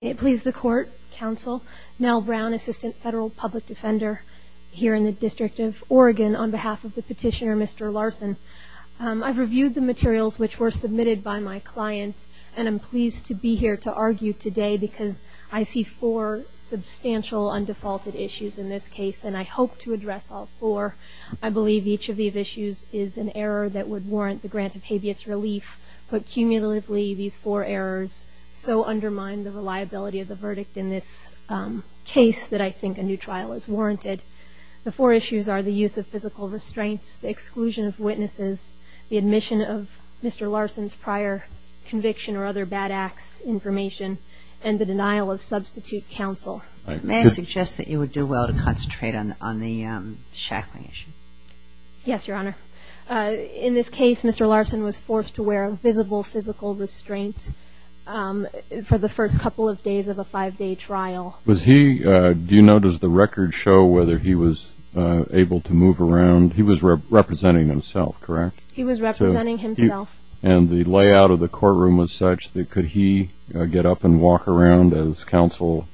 It pleases the Court, Counsel Nell Brown, Assistant Federal Public Defender here in the District of Oregon, on behalf of the petitioner Mr. Larson. I've reviewed the materials which were submitted by my client, and I'm pleased to be here to argue today because I see four substantial undefaulted issues in this case, and I hope to address all four. I believe each of these issues is an error that would warrant the grant of habeas relief, but cumulatively these four errors so undermine the reliability of the verdict in this case that I think a new trial is warranted. The four issues are the use of physical restraints, the exclusion of witnesses, the admission of Mr. Larson's prior conviction or other bad acts information, and the denial of substitute counsel. May I suggest that you would do well to concentrate on the shackling issue? Yes, Your Honor. In this case, Mr. Larson was forced to wear a visible physical restraint for the first couple of days of a five-day trial. Do you know, does the record show whether he was able to move around? He was representing himself, correct? He was representing himself. And the layout of the courtroom was such that could he get up and walk around as counsel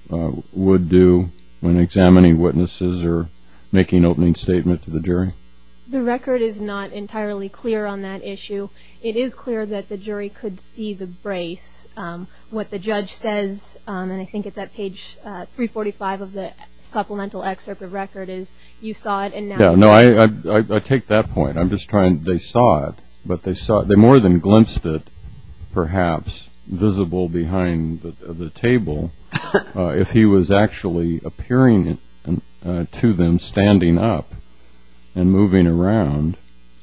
would do when examining witnesses or making an opening statement to the jury? The record is not entirely clear on that issue. It is clear that the jury could see the brace. What the judge says, and I think it's at page 345 of the supplemental excerpt of the record, is you saw it and now you don't. No, I take that point. I'm just trying, they saw it, but they more than glimpsed it perhaps visible behind the table. If he was actually appearing to them standing up and moving around.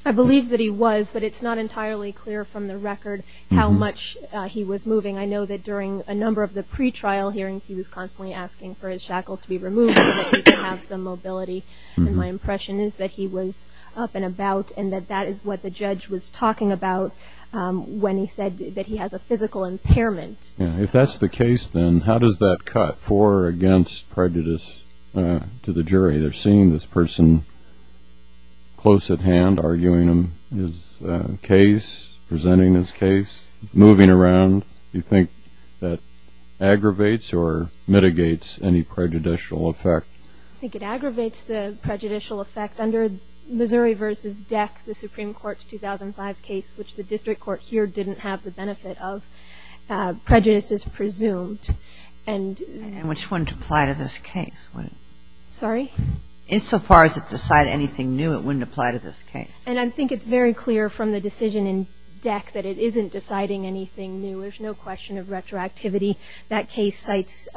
I believe that he was, but it's not entirely clear from the record how much he was moving. I know that during a number of the pretrial hearings he was constantly asking for his shackles to be removed so that he could have some mobility. And my impression is that he was up and about and that that is what the judge was talking about when he said that he has a physical impairment. If that's the case, then how does that cut for or against prejudice to the jury? They're seeing this person close at hand, arguing his case, presenting his case, moving around. Do you think that aggravates or mitigates any prejudicial effect? I think it aggravates the prejudicial effect. Under Missouri v. Deck, the Supreme Court's 2005 case, which the district court here didn't have the benefit of, prejudice is presumed. And which wouldn't apply to this case? Sorry? Insofar as it decided anything new, it wouldn't apply to this case. And I think it's very clear from the decision in Deck that it isn't deciding anything new. There's no question of retroactivity. That case cites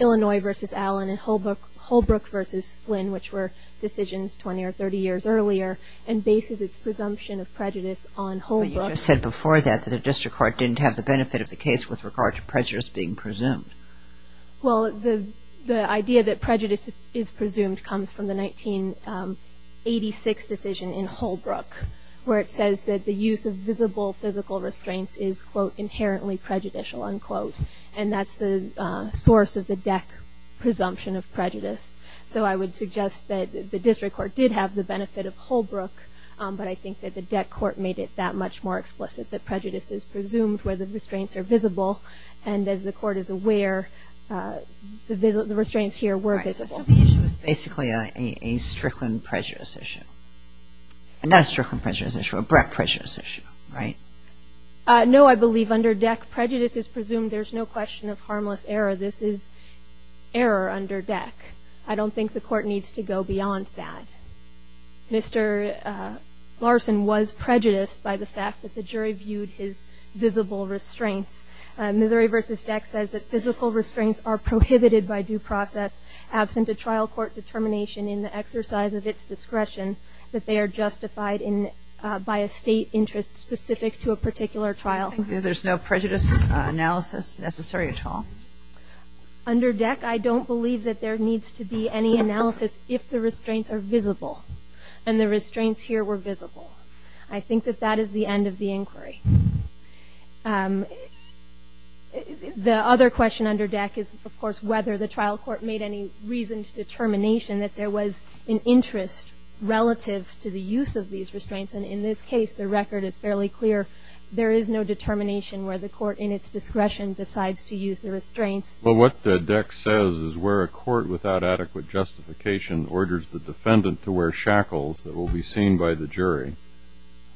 Illinois v. Allen and Holbrook v. Flynn, which were decisions 20 or 30 years earlier, and bases its presumption of prejudice on Holbrook. But you just said before that the district court didn't have the benefit of the case with regard to prejudice being presumed. Well, the idea that prejudice is presumed comes from the 1986 decision in Holbrook, where it says that the use of visible physical restraints is, quote, inherently prejudicial, unquote. And that's the source of the Deck presumption of prejudice. So I would suggest that the district court did have the benefit of Holbrook, but I think that the Deck court made it that much more explicit, that prejudice is presumed where the restraints are visible. And as the court is aware, the restraints here were visible. So the issue is basically a Strickland prejudice issue. Not a Strickland prejudice issue, a Brett prejudice issue, right? No, I believe under Deck prejudice is presumed. There's no question of harmless error. This is error under Deck. I don't think the court needs to go beyond that. Mr. Larson was prejudiced by the fact that the jury viewed his visible restraints. Missouri v. Deck says that physical restraints are prohibited by due process absent a trial court determination in the exercise of its discretion that they are justified by a state interest specific to a particular trial. There's no prejudice analysis necessary at all? Under Deck, I don't believe that there needs to be any analysis if the restraints are visible and the restraints here were visible. I think that that is the end of the inquiry. The other question under Deck is, of course, whether the trial court made any reasoned determination that there was an interest relative to the use of these restraints. And in this case, the record is fairly clear. There is no determination where the court in its discretion decides to use the restraints. Well, what Deck says is where a court without adequate justification orders the defendant to wear shackles that will be seen by the jury,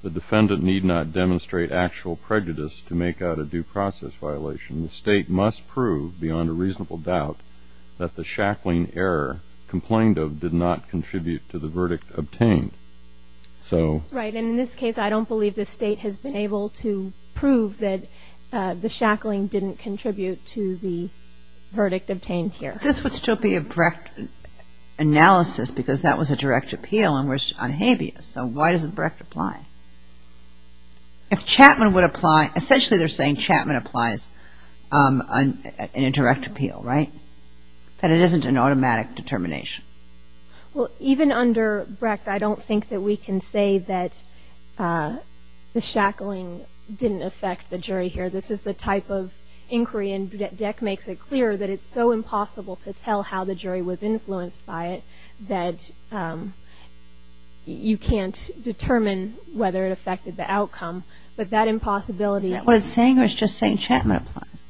the defendant need not demonstrate actual prejudice to make out a due process violation. The state must prove beyond a reasonable doubt that the shackling error complained of did not contribute to the verdict obtained. Right. And in this case, I don't believe the state has been able to prove that the shackling didn't contribute to the verdict obtained here. This would still be a direct analysis because that was a direct appeal on habeas. So why doesn't Brecht apply? If Chapman would apply, essentially they're saying Chapman applies an indirect appeal, right, that it isn't an automatic determination. Well, even under Brecht, I don't think that we can say that the shackling didn't affect the jury here. This is the type of inquiry, and Deck makes it clear that it's so impossible to tell how the jury was influenced by it that you can't determine whether it affected the outcome. But that impossibility- Is that what it's saying or is it just saying Chapman applies?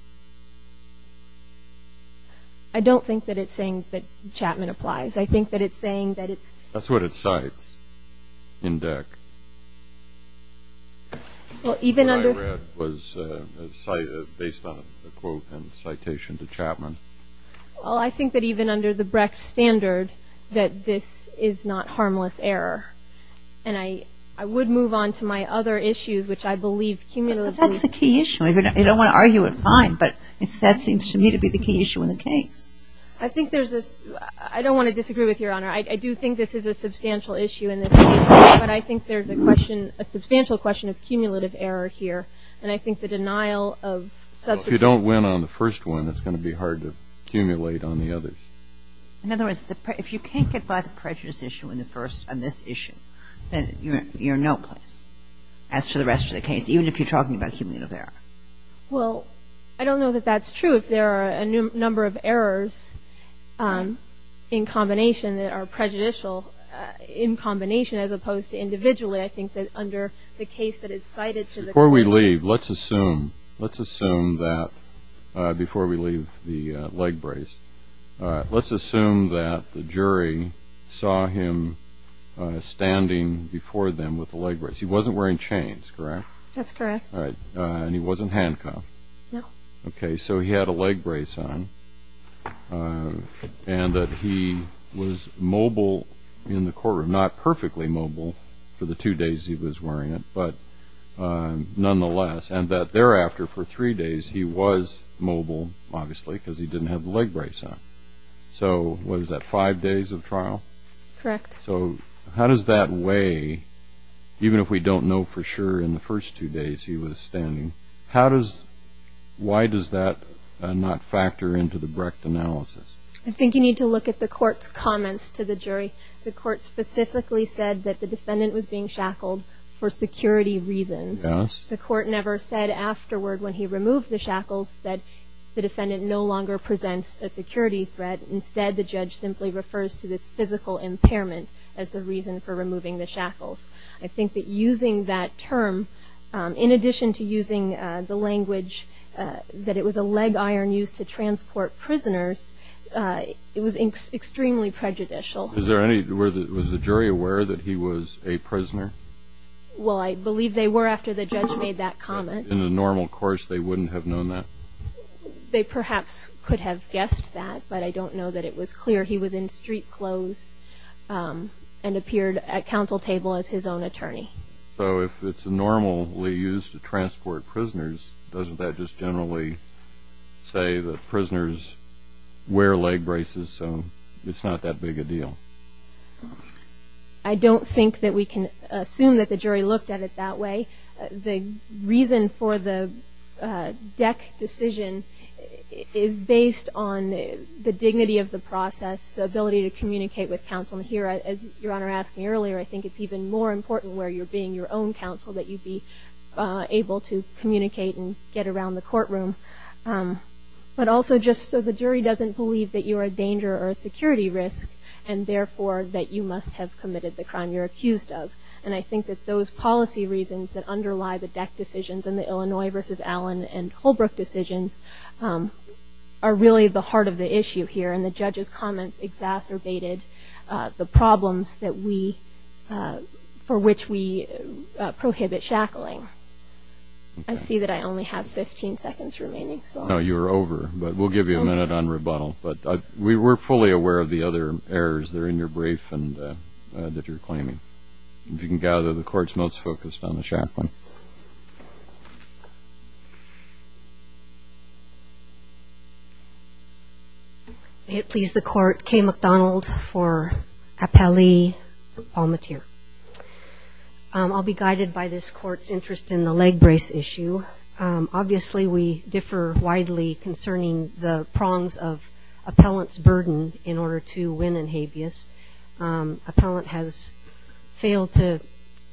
I don't think that it's saying that Chapman applies. I think that it's saying that it's- That's what it cites in Deck. Well, even under- What I read was a cite based on a quote and citation to Chapman. Well, I think that even under the Brecht standard that this is not harmless error. And I would move on to my other issues, which I believe cumulatively- But that's the key issue. I don't want to argue it. Fine. But that seems to me to be the key issue in the case. I think there's a- I don't want to disagree with Your Honor. I do think this is a substantial issue in this case, but I think there's a question, a substantial question of cumulative error here. And I think the denial of- If you don't win on the first one, it's going to be hard to accumulate on the others. In other words, if you can't get by the prejudice issue in the first on this issue, then you're in no place as to the rest of the case, even if you're talking about cumulative error. Well, I don't know that that's true. If there are a number of errors in combination that are prejudicial in combination as opposed to individually, I think that under the case that it's cited to the- Before we leave, let's assume- Let's assume that- Before we leave the leg brace, let's assume that the jury saw him standing before them with the leg brace. He wasn't wearing chains, correct? That's correct. All right. And he wasn't handcuffed? No. Okay. So he had a leg brace on, and that he was mobile in the courtroom. Not perfectly mobile for the two days he was wearing it, but nonetheless, and that thereafter, for three days, he was mobile, obviously, because he didn't have the leg brace on. So what is that, five days of trial? Correct. So how does that weigh, even if we don't know for sure in the first two days he was standing, how does-why does that not factor into the Brecht analysis? I think you need to look at the court's comments to the jury. The court specifically said that the defendant was being shackled for security reasons. Yes. The court never said afterward, when he removed the shackles, that the defendant no longer presents a security threat. Instead, the judge simply refers to this physical impairment as the reason for removing the shackles. I think that using that term, in addition to using the language that it was a leg iron used to transport prisoners, it was extremely prejudicial. Is there any-was the jury aware that he was a prisoner? Well, I believe they were after the judge made that comment. In a normal course, they wouldn't have known that? They perhaps could have guessed that, but I don't know that it was clear. He was in street clothes and appeared at counsel table as his own attorney. So if it's normally used to transport prisoners, doesn't that just generally say that prisoners wear leg braces, so it's not that big a deal? I don't think that we can assume that the jury looked at it that way. The reason for the deck decision is based on the dignity of the process, the ability to communicate with counsel. And here, as Your Honor asked me earlier, I think it's even more important where you're being your own counsel that you be able to communicate and get around the courtroom. But also just so the jury doesn't believe that you're a danger or a security risk, and therefore that you must have committed the crime you're accused of. And I think that those policy reasons that underlie the deck decisions and the Illinois v. Allen and Holbrook decisions are really the heart of the issue here. And the judge's comments exacerbated the problems for which we prohibit shackling. I see that I only have 15 seconds remaining. No, you're over. But we'll give you a minute on rebuttal. But we're fully aware of the other errors that are in your brief that you're claiming. If you can gather, the Court's most focused on the shackling. May it please the Court, Kay McDonald for appellee, Palmatier. I'll be guided by this Court's interest in the leg brace issue. Obviously, we differ widely concerning the prongs of appellant's burden in order to win in habeas. Appellant has failed to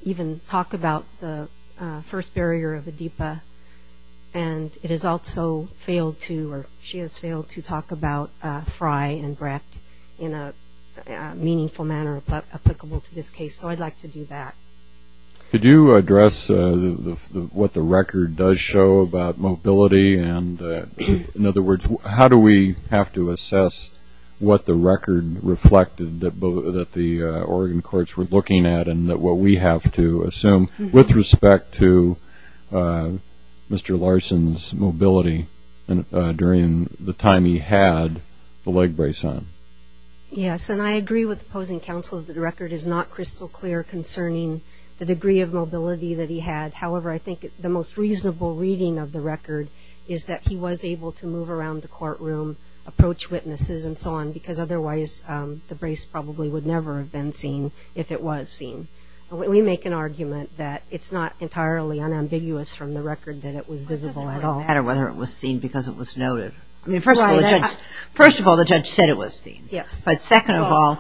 even talk about the first barrier of ADEPA, and it has also failed to or she has failed to talk about Fry and Brett in a meaningful manner applicable to this case. So I'd like to do that. Could you address what the record does show about mobility? In other words, how do we have to assess what the record reflected that the Oregon courts were looking at and what we have to assume with respect to Mr. Larson's mobility during the time he had the leg brace on? Yes, and I agree with the opposing counsel that the record is not crystal clear concerning the degree of mobility that he had. However, I think the most reasonable reading of the record is that he was able to move around the courtroom, approach witnesses and so on, because otherwise the brace probably would never have been seen if it was seen. We make an argument that it's not entirely unambiguous from the record that it was visible at all. It doesn't really matter whether it was seen because it was noted. I mean, first of all, the judge said it was seen. Yes. But second of all,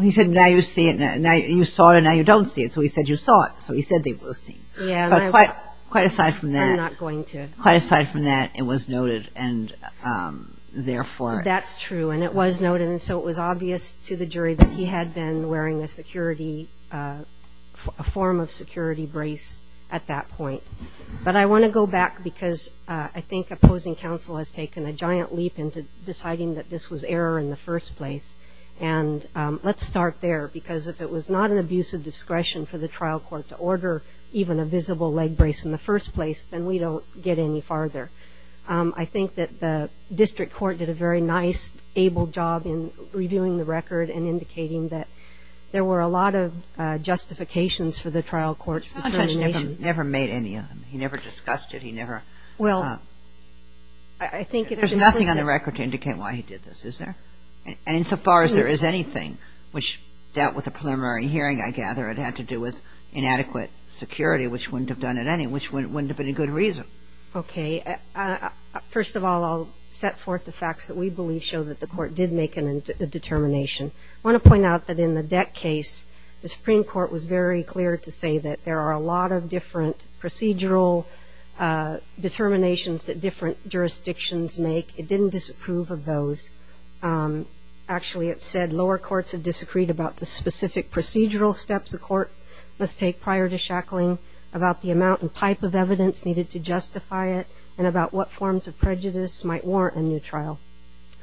he said now you see it, now you saw it and now you don't see it, so he said you saw it, so he said it was seen. Yes. But quite aside from that. I'm not going to. Quite aside from that, it was noted and therefore. That's true, and it was noted, and so it was obvious to the jury that he had been wearing a form of security brace at that point. But I want to go back because I think opposing counsel has taken a giant leap into deciding that this was error in the first place. And let's start there because if it was not an abuse of discretion for the trial court to order even a visible leg brace in the first place, then we don't get any farther. I think that the district court did a very nice, able job in reviewing the record and indicating that there were a lot of justifications for the trial court's determination. The judge never made any of them. He never discussed it. He never. Well, I think it's implicit. There's nothing on the record to indicate why he did this, is there? And insofar as there is anything, which dealt with a preliminary hearing, I gather, it had to do with inadequate security, which wouldn't have done it anyway, which wouldn't have been a good reason. Okay. First of all, I'll set forth the facts that we believe show that the court did make a determination. I want to point out that in the Deck case, the Supreme Court was very clear to say that there are a lot of different procedural determinations that different jurisdictions make. It didn't disapprove of those. Actually, it said lower courts have disagreed about the specific procedural steps a court must take prior to shackling, about the amount and type of evidence needed to justify it, and about what forms of prejudice might warrant a new trial.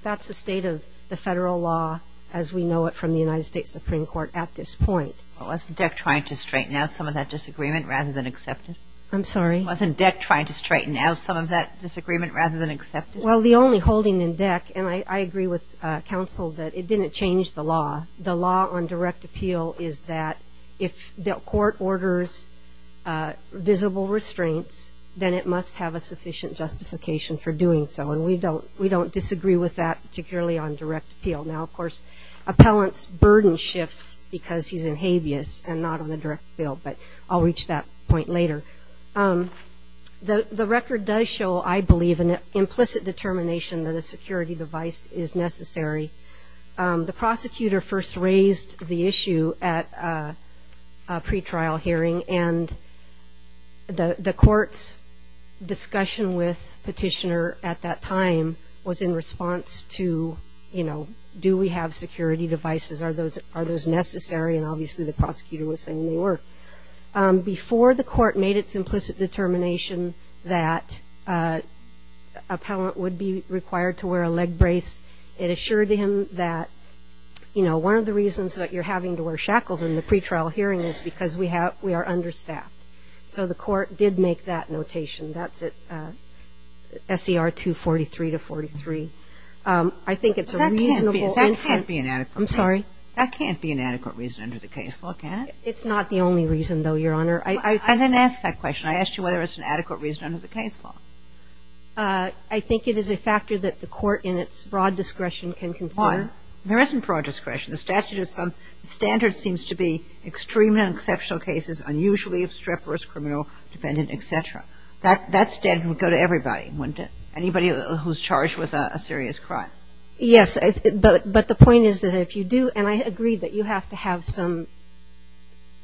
That's the state of the federal law as we know it from the United States Supreme Court at this point. Wasn't Deck trying to straighten out some of that disagreement rather than accept it? I'm sorry? Wasn't Deck trying to straighten out some of that disagreement rather than accept it? Well, the only holding in Deck, and I agree with counsel that it didn't change the law. The law on direct appeal is that if the court orders visible restraints, then it must have a sufficient justification for doing so, and we don't disagree with that, particularly on direct appeal. Now, of course, appellant's burden shifts because he's in habeas and not on the direct appeal, but I'll reach that point later. The record does show, I believe, an implicit determination that a security device is necessary. The prosecutor first raised the issue at a pretrial hearing, and the court's discussion with petitioner at that time was in response to, you know, do we have security devices, are those necessary, and obviously the prosecutor was saying they were. Before the court made its implicit determination that appellant would be required to wear a leg brace, it assured him that, you know, one of the reasons that you're having to wear shackles in the pretrial hearing is because we are understaffed. So the court did make that notation. That's at SER 243 to 43. I think it's a reasonable inference. That can't be an adequate reason. I'm sorry? That can't be an adequate reason under the case law, can it? It's not the only reason, though, Your Honor. I didn't ask that question. I asked you whether it's an adequate reason under the case law. I think it is a factor that the court in its broad discretion can consider. Why? There isn't broad discretion. The statute is some standard seems to be extreme and exceptional cases, unusually obstreperous, criminal, dependent, et cetera. That standard would go to everybody, wouldn't it? Anybody who's charged with a serious crime. Yes. But the point is that if you do, and I agree that you have to have some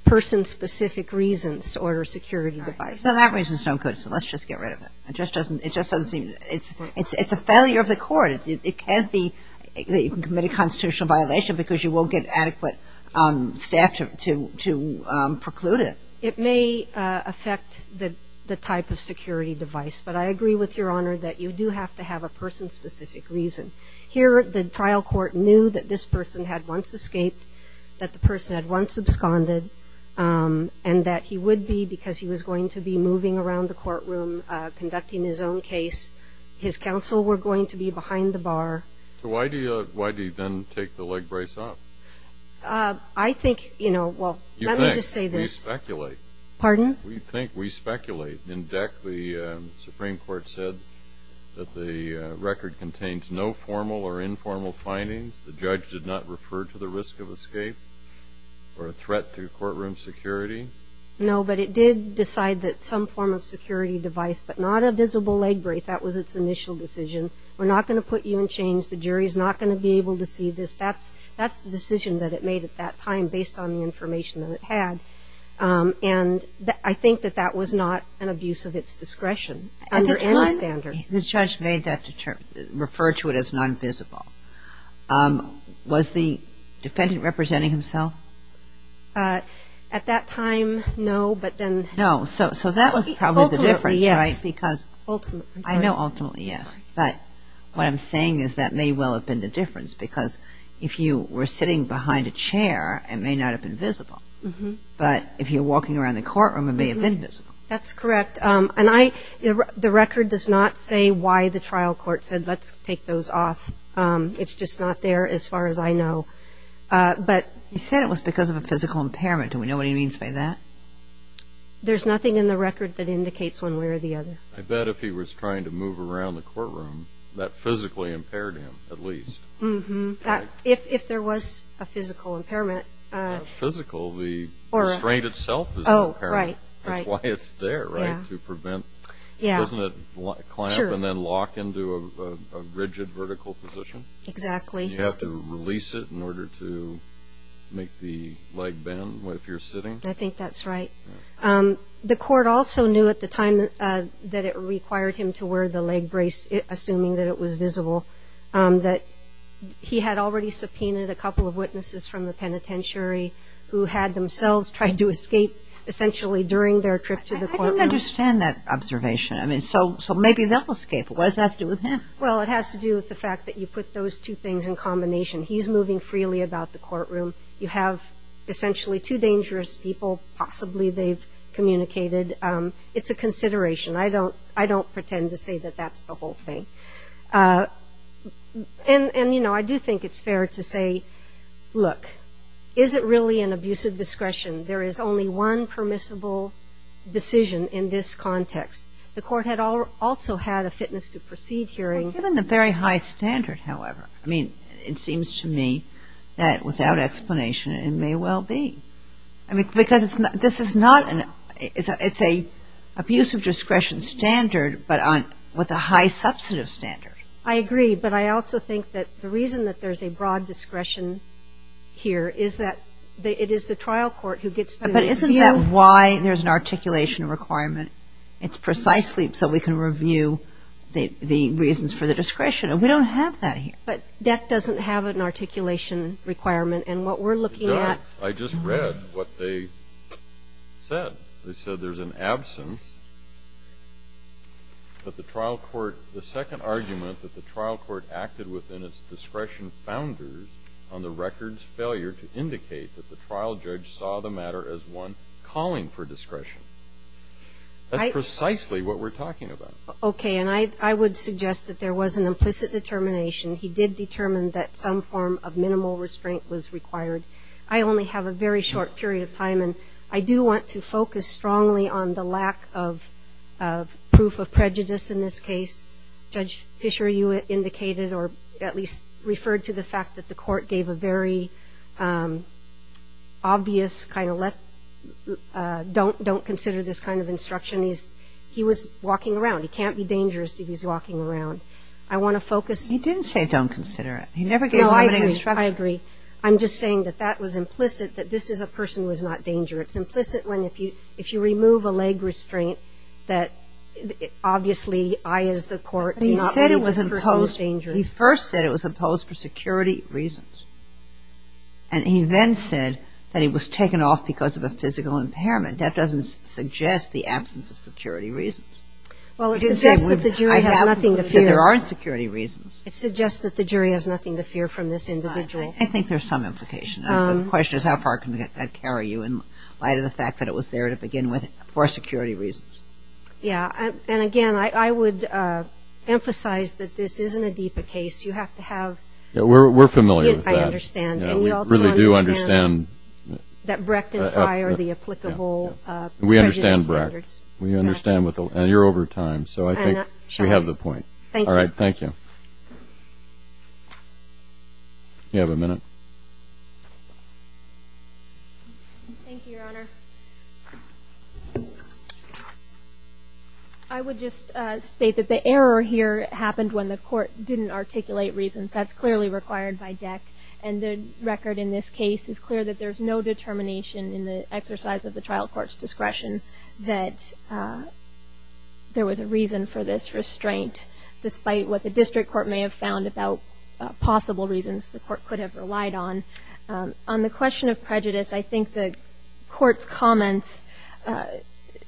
person-specific reasons to order a security device. So that reason's no good. So let's just get rid of it. It just doesn't seem to be. It's a failure of the court. It can't be that you can commit a constitutional violation because you won't get adequate staff to preclude it. It may affect the type of security device. But I agree with Your Honor that you do have to have a person-specific reason. Here the trial court knew that this person had once escaped, that the person had once absconded, and that he would be because he was going to be moving around the courtroom conducting his own case. His counsel were going to be behind the bar. So why do you then take the leg brace off? I think, you know, well, let me just say this. You think. We speculate. Pardon? We think. We speculate. In DEC, the Supreme Court said that the record contains no formal or informal findings. The judge did not refer to the risk of escape or a threat to courtroom security. No, but it did decide that some form of security device, but not a visible leg brace. That was its initial decision. We're not going to put you in chains. The jury's not going to be able to see this. That's the decision that it made at that time based on the information that it had. And I think that that was not an abuse of its discretion under any standard. The judge made that, referred to it as non-visible. Was the defendant representing himself? At that time, no, but then. No, so that was probably the difference, right? Ultimately, yes. I know ultimately, yes. But what I'm saying is that may well have been the difference because if you were sitting behind a chair, it may not have been visible. But if you're walking around the courtroom, it may have been visible. That's correct. And the record does not say why the trial court said, let's take those off. It's just not there as far as I know. But you said it was because of a physical impairment. Do we know what he means by that? There's nothing in the record that indicates one way or the other. I bet if he was trying to move around the courtroom, that physically impaired him at least. If there was a physical impairment. Physical, the restraint itself is an impairment. That's why it's there, right, to prevent. Doesn't it clamp and then lock into a rigid vertical position? Exactly. You have to release it in order to make the leg bend if you're sitting? I think that's right. The court also knew at the time that it required him to wear the leg brace, assuming that it was visible, that he had already subpoenaed a couple of witnesses from the penitentiary who had themselves tried to escape essentially during their trip to the courtroom. I didn't understand that observation. I mean, so maybe they'll escape. What does that have to do with him? Well, it has to do with the fact that you put those two things in combination. He's moving freely about the courtroom. You have essentially two dangerous people. Possibly they've communicated. It's a consideration. I don't pretend to say that that's the whole thing. And, you know, I do think it's fair to say, look, is it really an abuse of discretion? There is only one permissible decision in this context. The court had also had a fitness to proceed hearing. Well, given the very high standard, however, I mean, it seems to me that without explanation it may well be. Because this is not an – it's an abuse of discretion standard, but with a high substantive standard. I agree. But I also think that the reason that there's a broad discretion here is that it is the trial court who gets to review. But isn't that why there's an articulation requirement? It's precisely so we can review the reasons for the discretion. And we don't have that here. But that doesn't have an articulation requirement. And what we're looking at – I just read what they said. They said there's an absence that the trial court – the second argument that the trial court acted within its discretion founders on the record's failure to indicate that the trial judge saw the matter as one calling for discretion. That's precisely what we're talking about. Okay. And I would suggest that there was an implicit determination. He did determine that some form of minimal restraint was required. I only have a very short period of time, and I do want to focus strongly on the lack of proof of prejudice in this case. Judge Fisher, you indicated or at least referred to the fact that the court gave a very obvious kind of – don't consider this kind of instruction. He was walking around. He can't be dangerous if he's walking around. I want to focus – He didn't say don't consider it. He never gave a limiting instruction. No, I agree. I agree. I'm just saying that that was implicit, that this is a person who is not dangerous. It's implicit when if you remove a leg restraint that obviously I, as the court, do not believe this person is dangerous. But he said it was imposed – he first said it was imposed for security reasons. And he then said that it was taken off because of a physical impairment. That doesn't suggest the absence of security reasons. Well, it suggests that the jury has nothing to fear. There are security reasons. It suggests that the jury has nothing to fear from this individual. I think there's some implication. The question is how far can that carry you in light of the fact that it was there to begin with for security reasons. Yeah. And, again, I would emphasize that this isn't a DEPA case. You have to have – We're familiar with that. I understand. We really do understand – That Brecht and Fye are the applicable prejudice standards. We understand Brecht. We understand. And you're over time, so I think she has the point. All right. Thank you. You have a minute. Thank you, Your Honor. I would just state that the error here happened when the court didn't articulate reasons. That's clearly required by DEC. And the record in this case is clear that there's no determination in the exercise of the trial court's discretion that there was a reason for this restraint, despite what the district court may have found about possible reasons the court could have relied on. On the question of prejudice, I think the court's comments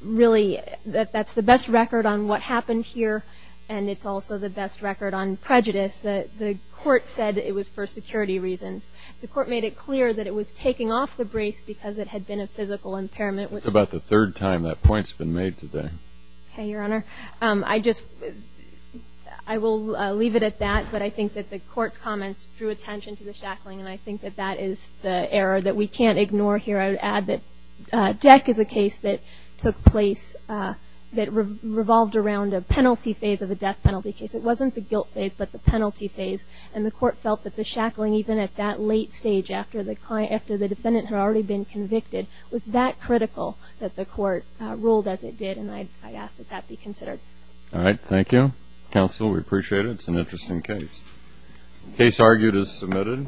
really – that that's the best record on what happened here, and it's also the best record on prejudice. The court said it was for security reasons. The court made it clear that it was taking off the brace because it had been a physical impairment. It's about the third time that point's been made today. Okay, Your Honor. I just – I will leave it at that, but I think that the court's comments drew attention to the shackling, and I think that that is the error that we can't ignore here. I would add that DEC is a case that took place that revolved around a penalty phase of a death penalty case. It wasn't the guilt phase, but the penalty phase. And the court felt that the shackling, even at that late stage, after the defendant had already been convicted, was that critical that the court ruled as it did, and I'd ask that that be considered. All right, thank you. Counsel, we appreciate it. It's an interesting case. Case argued as submitted.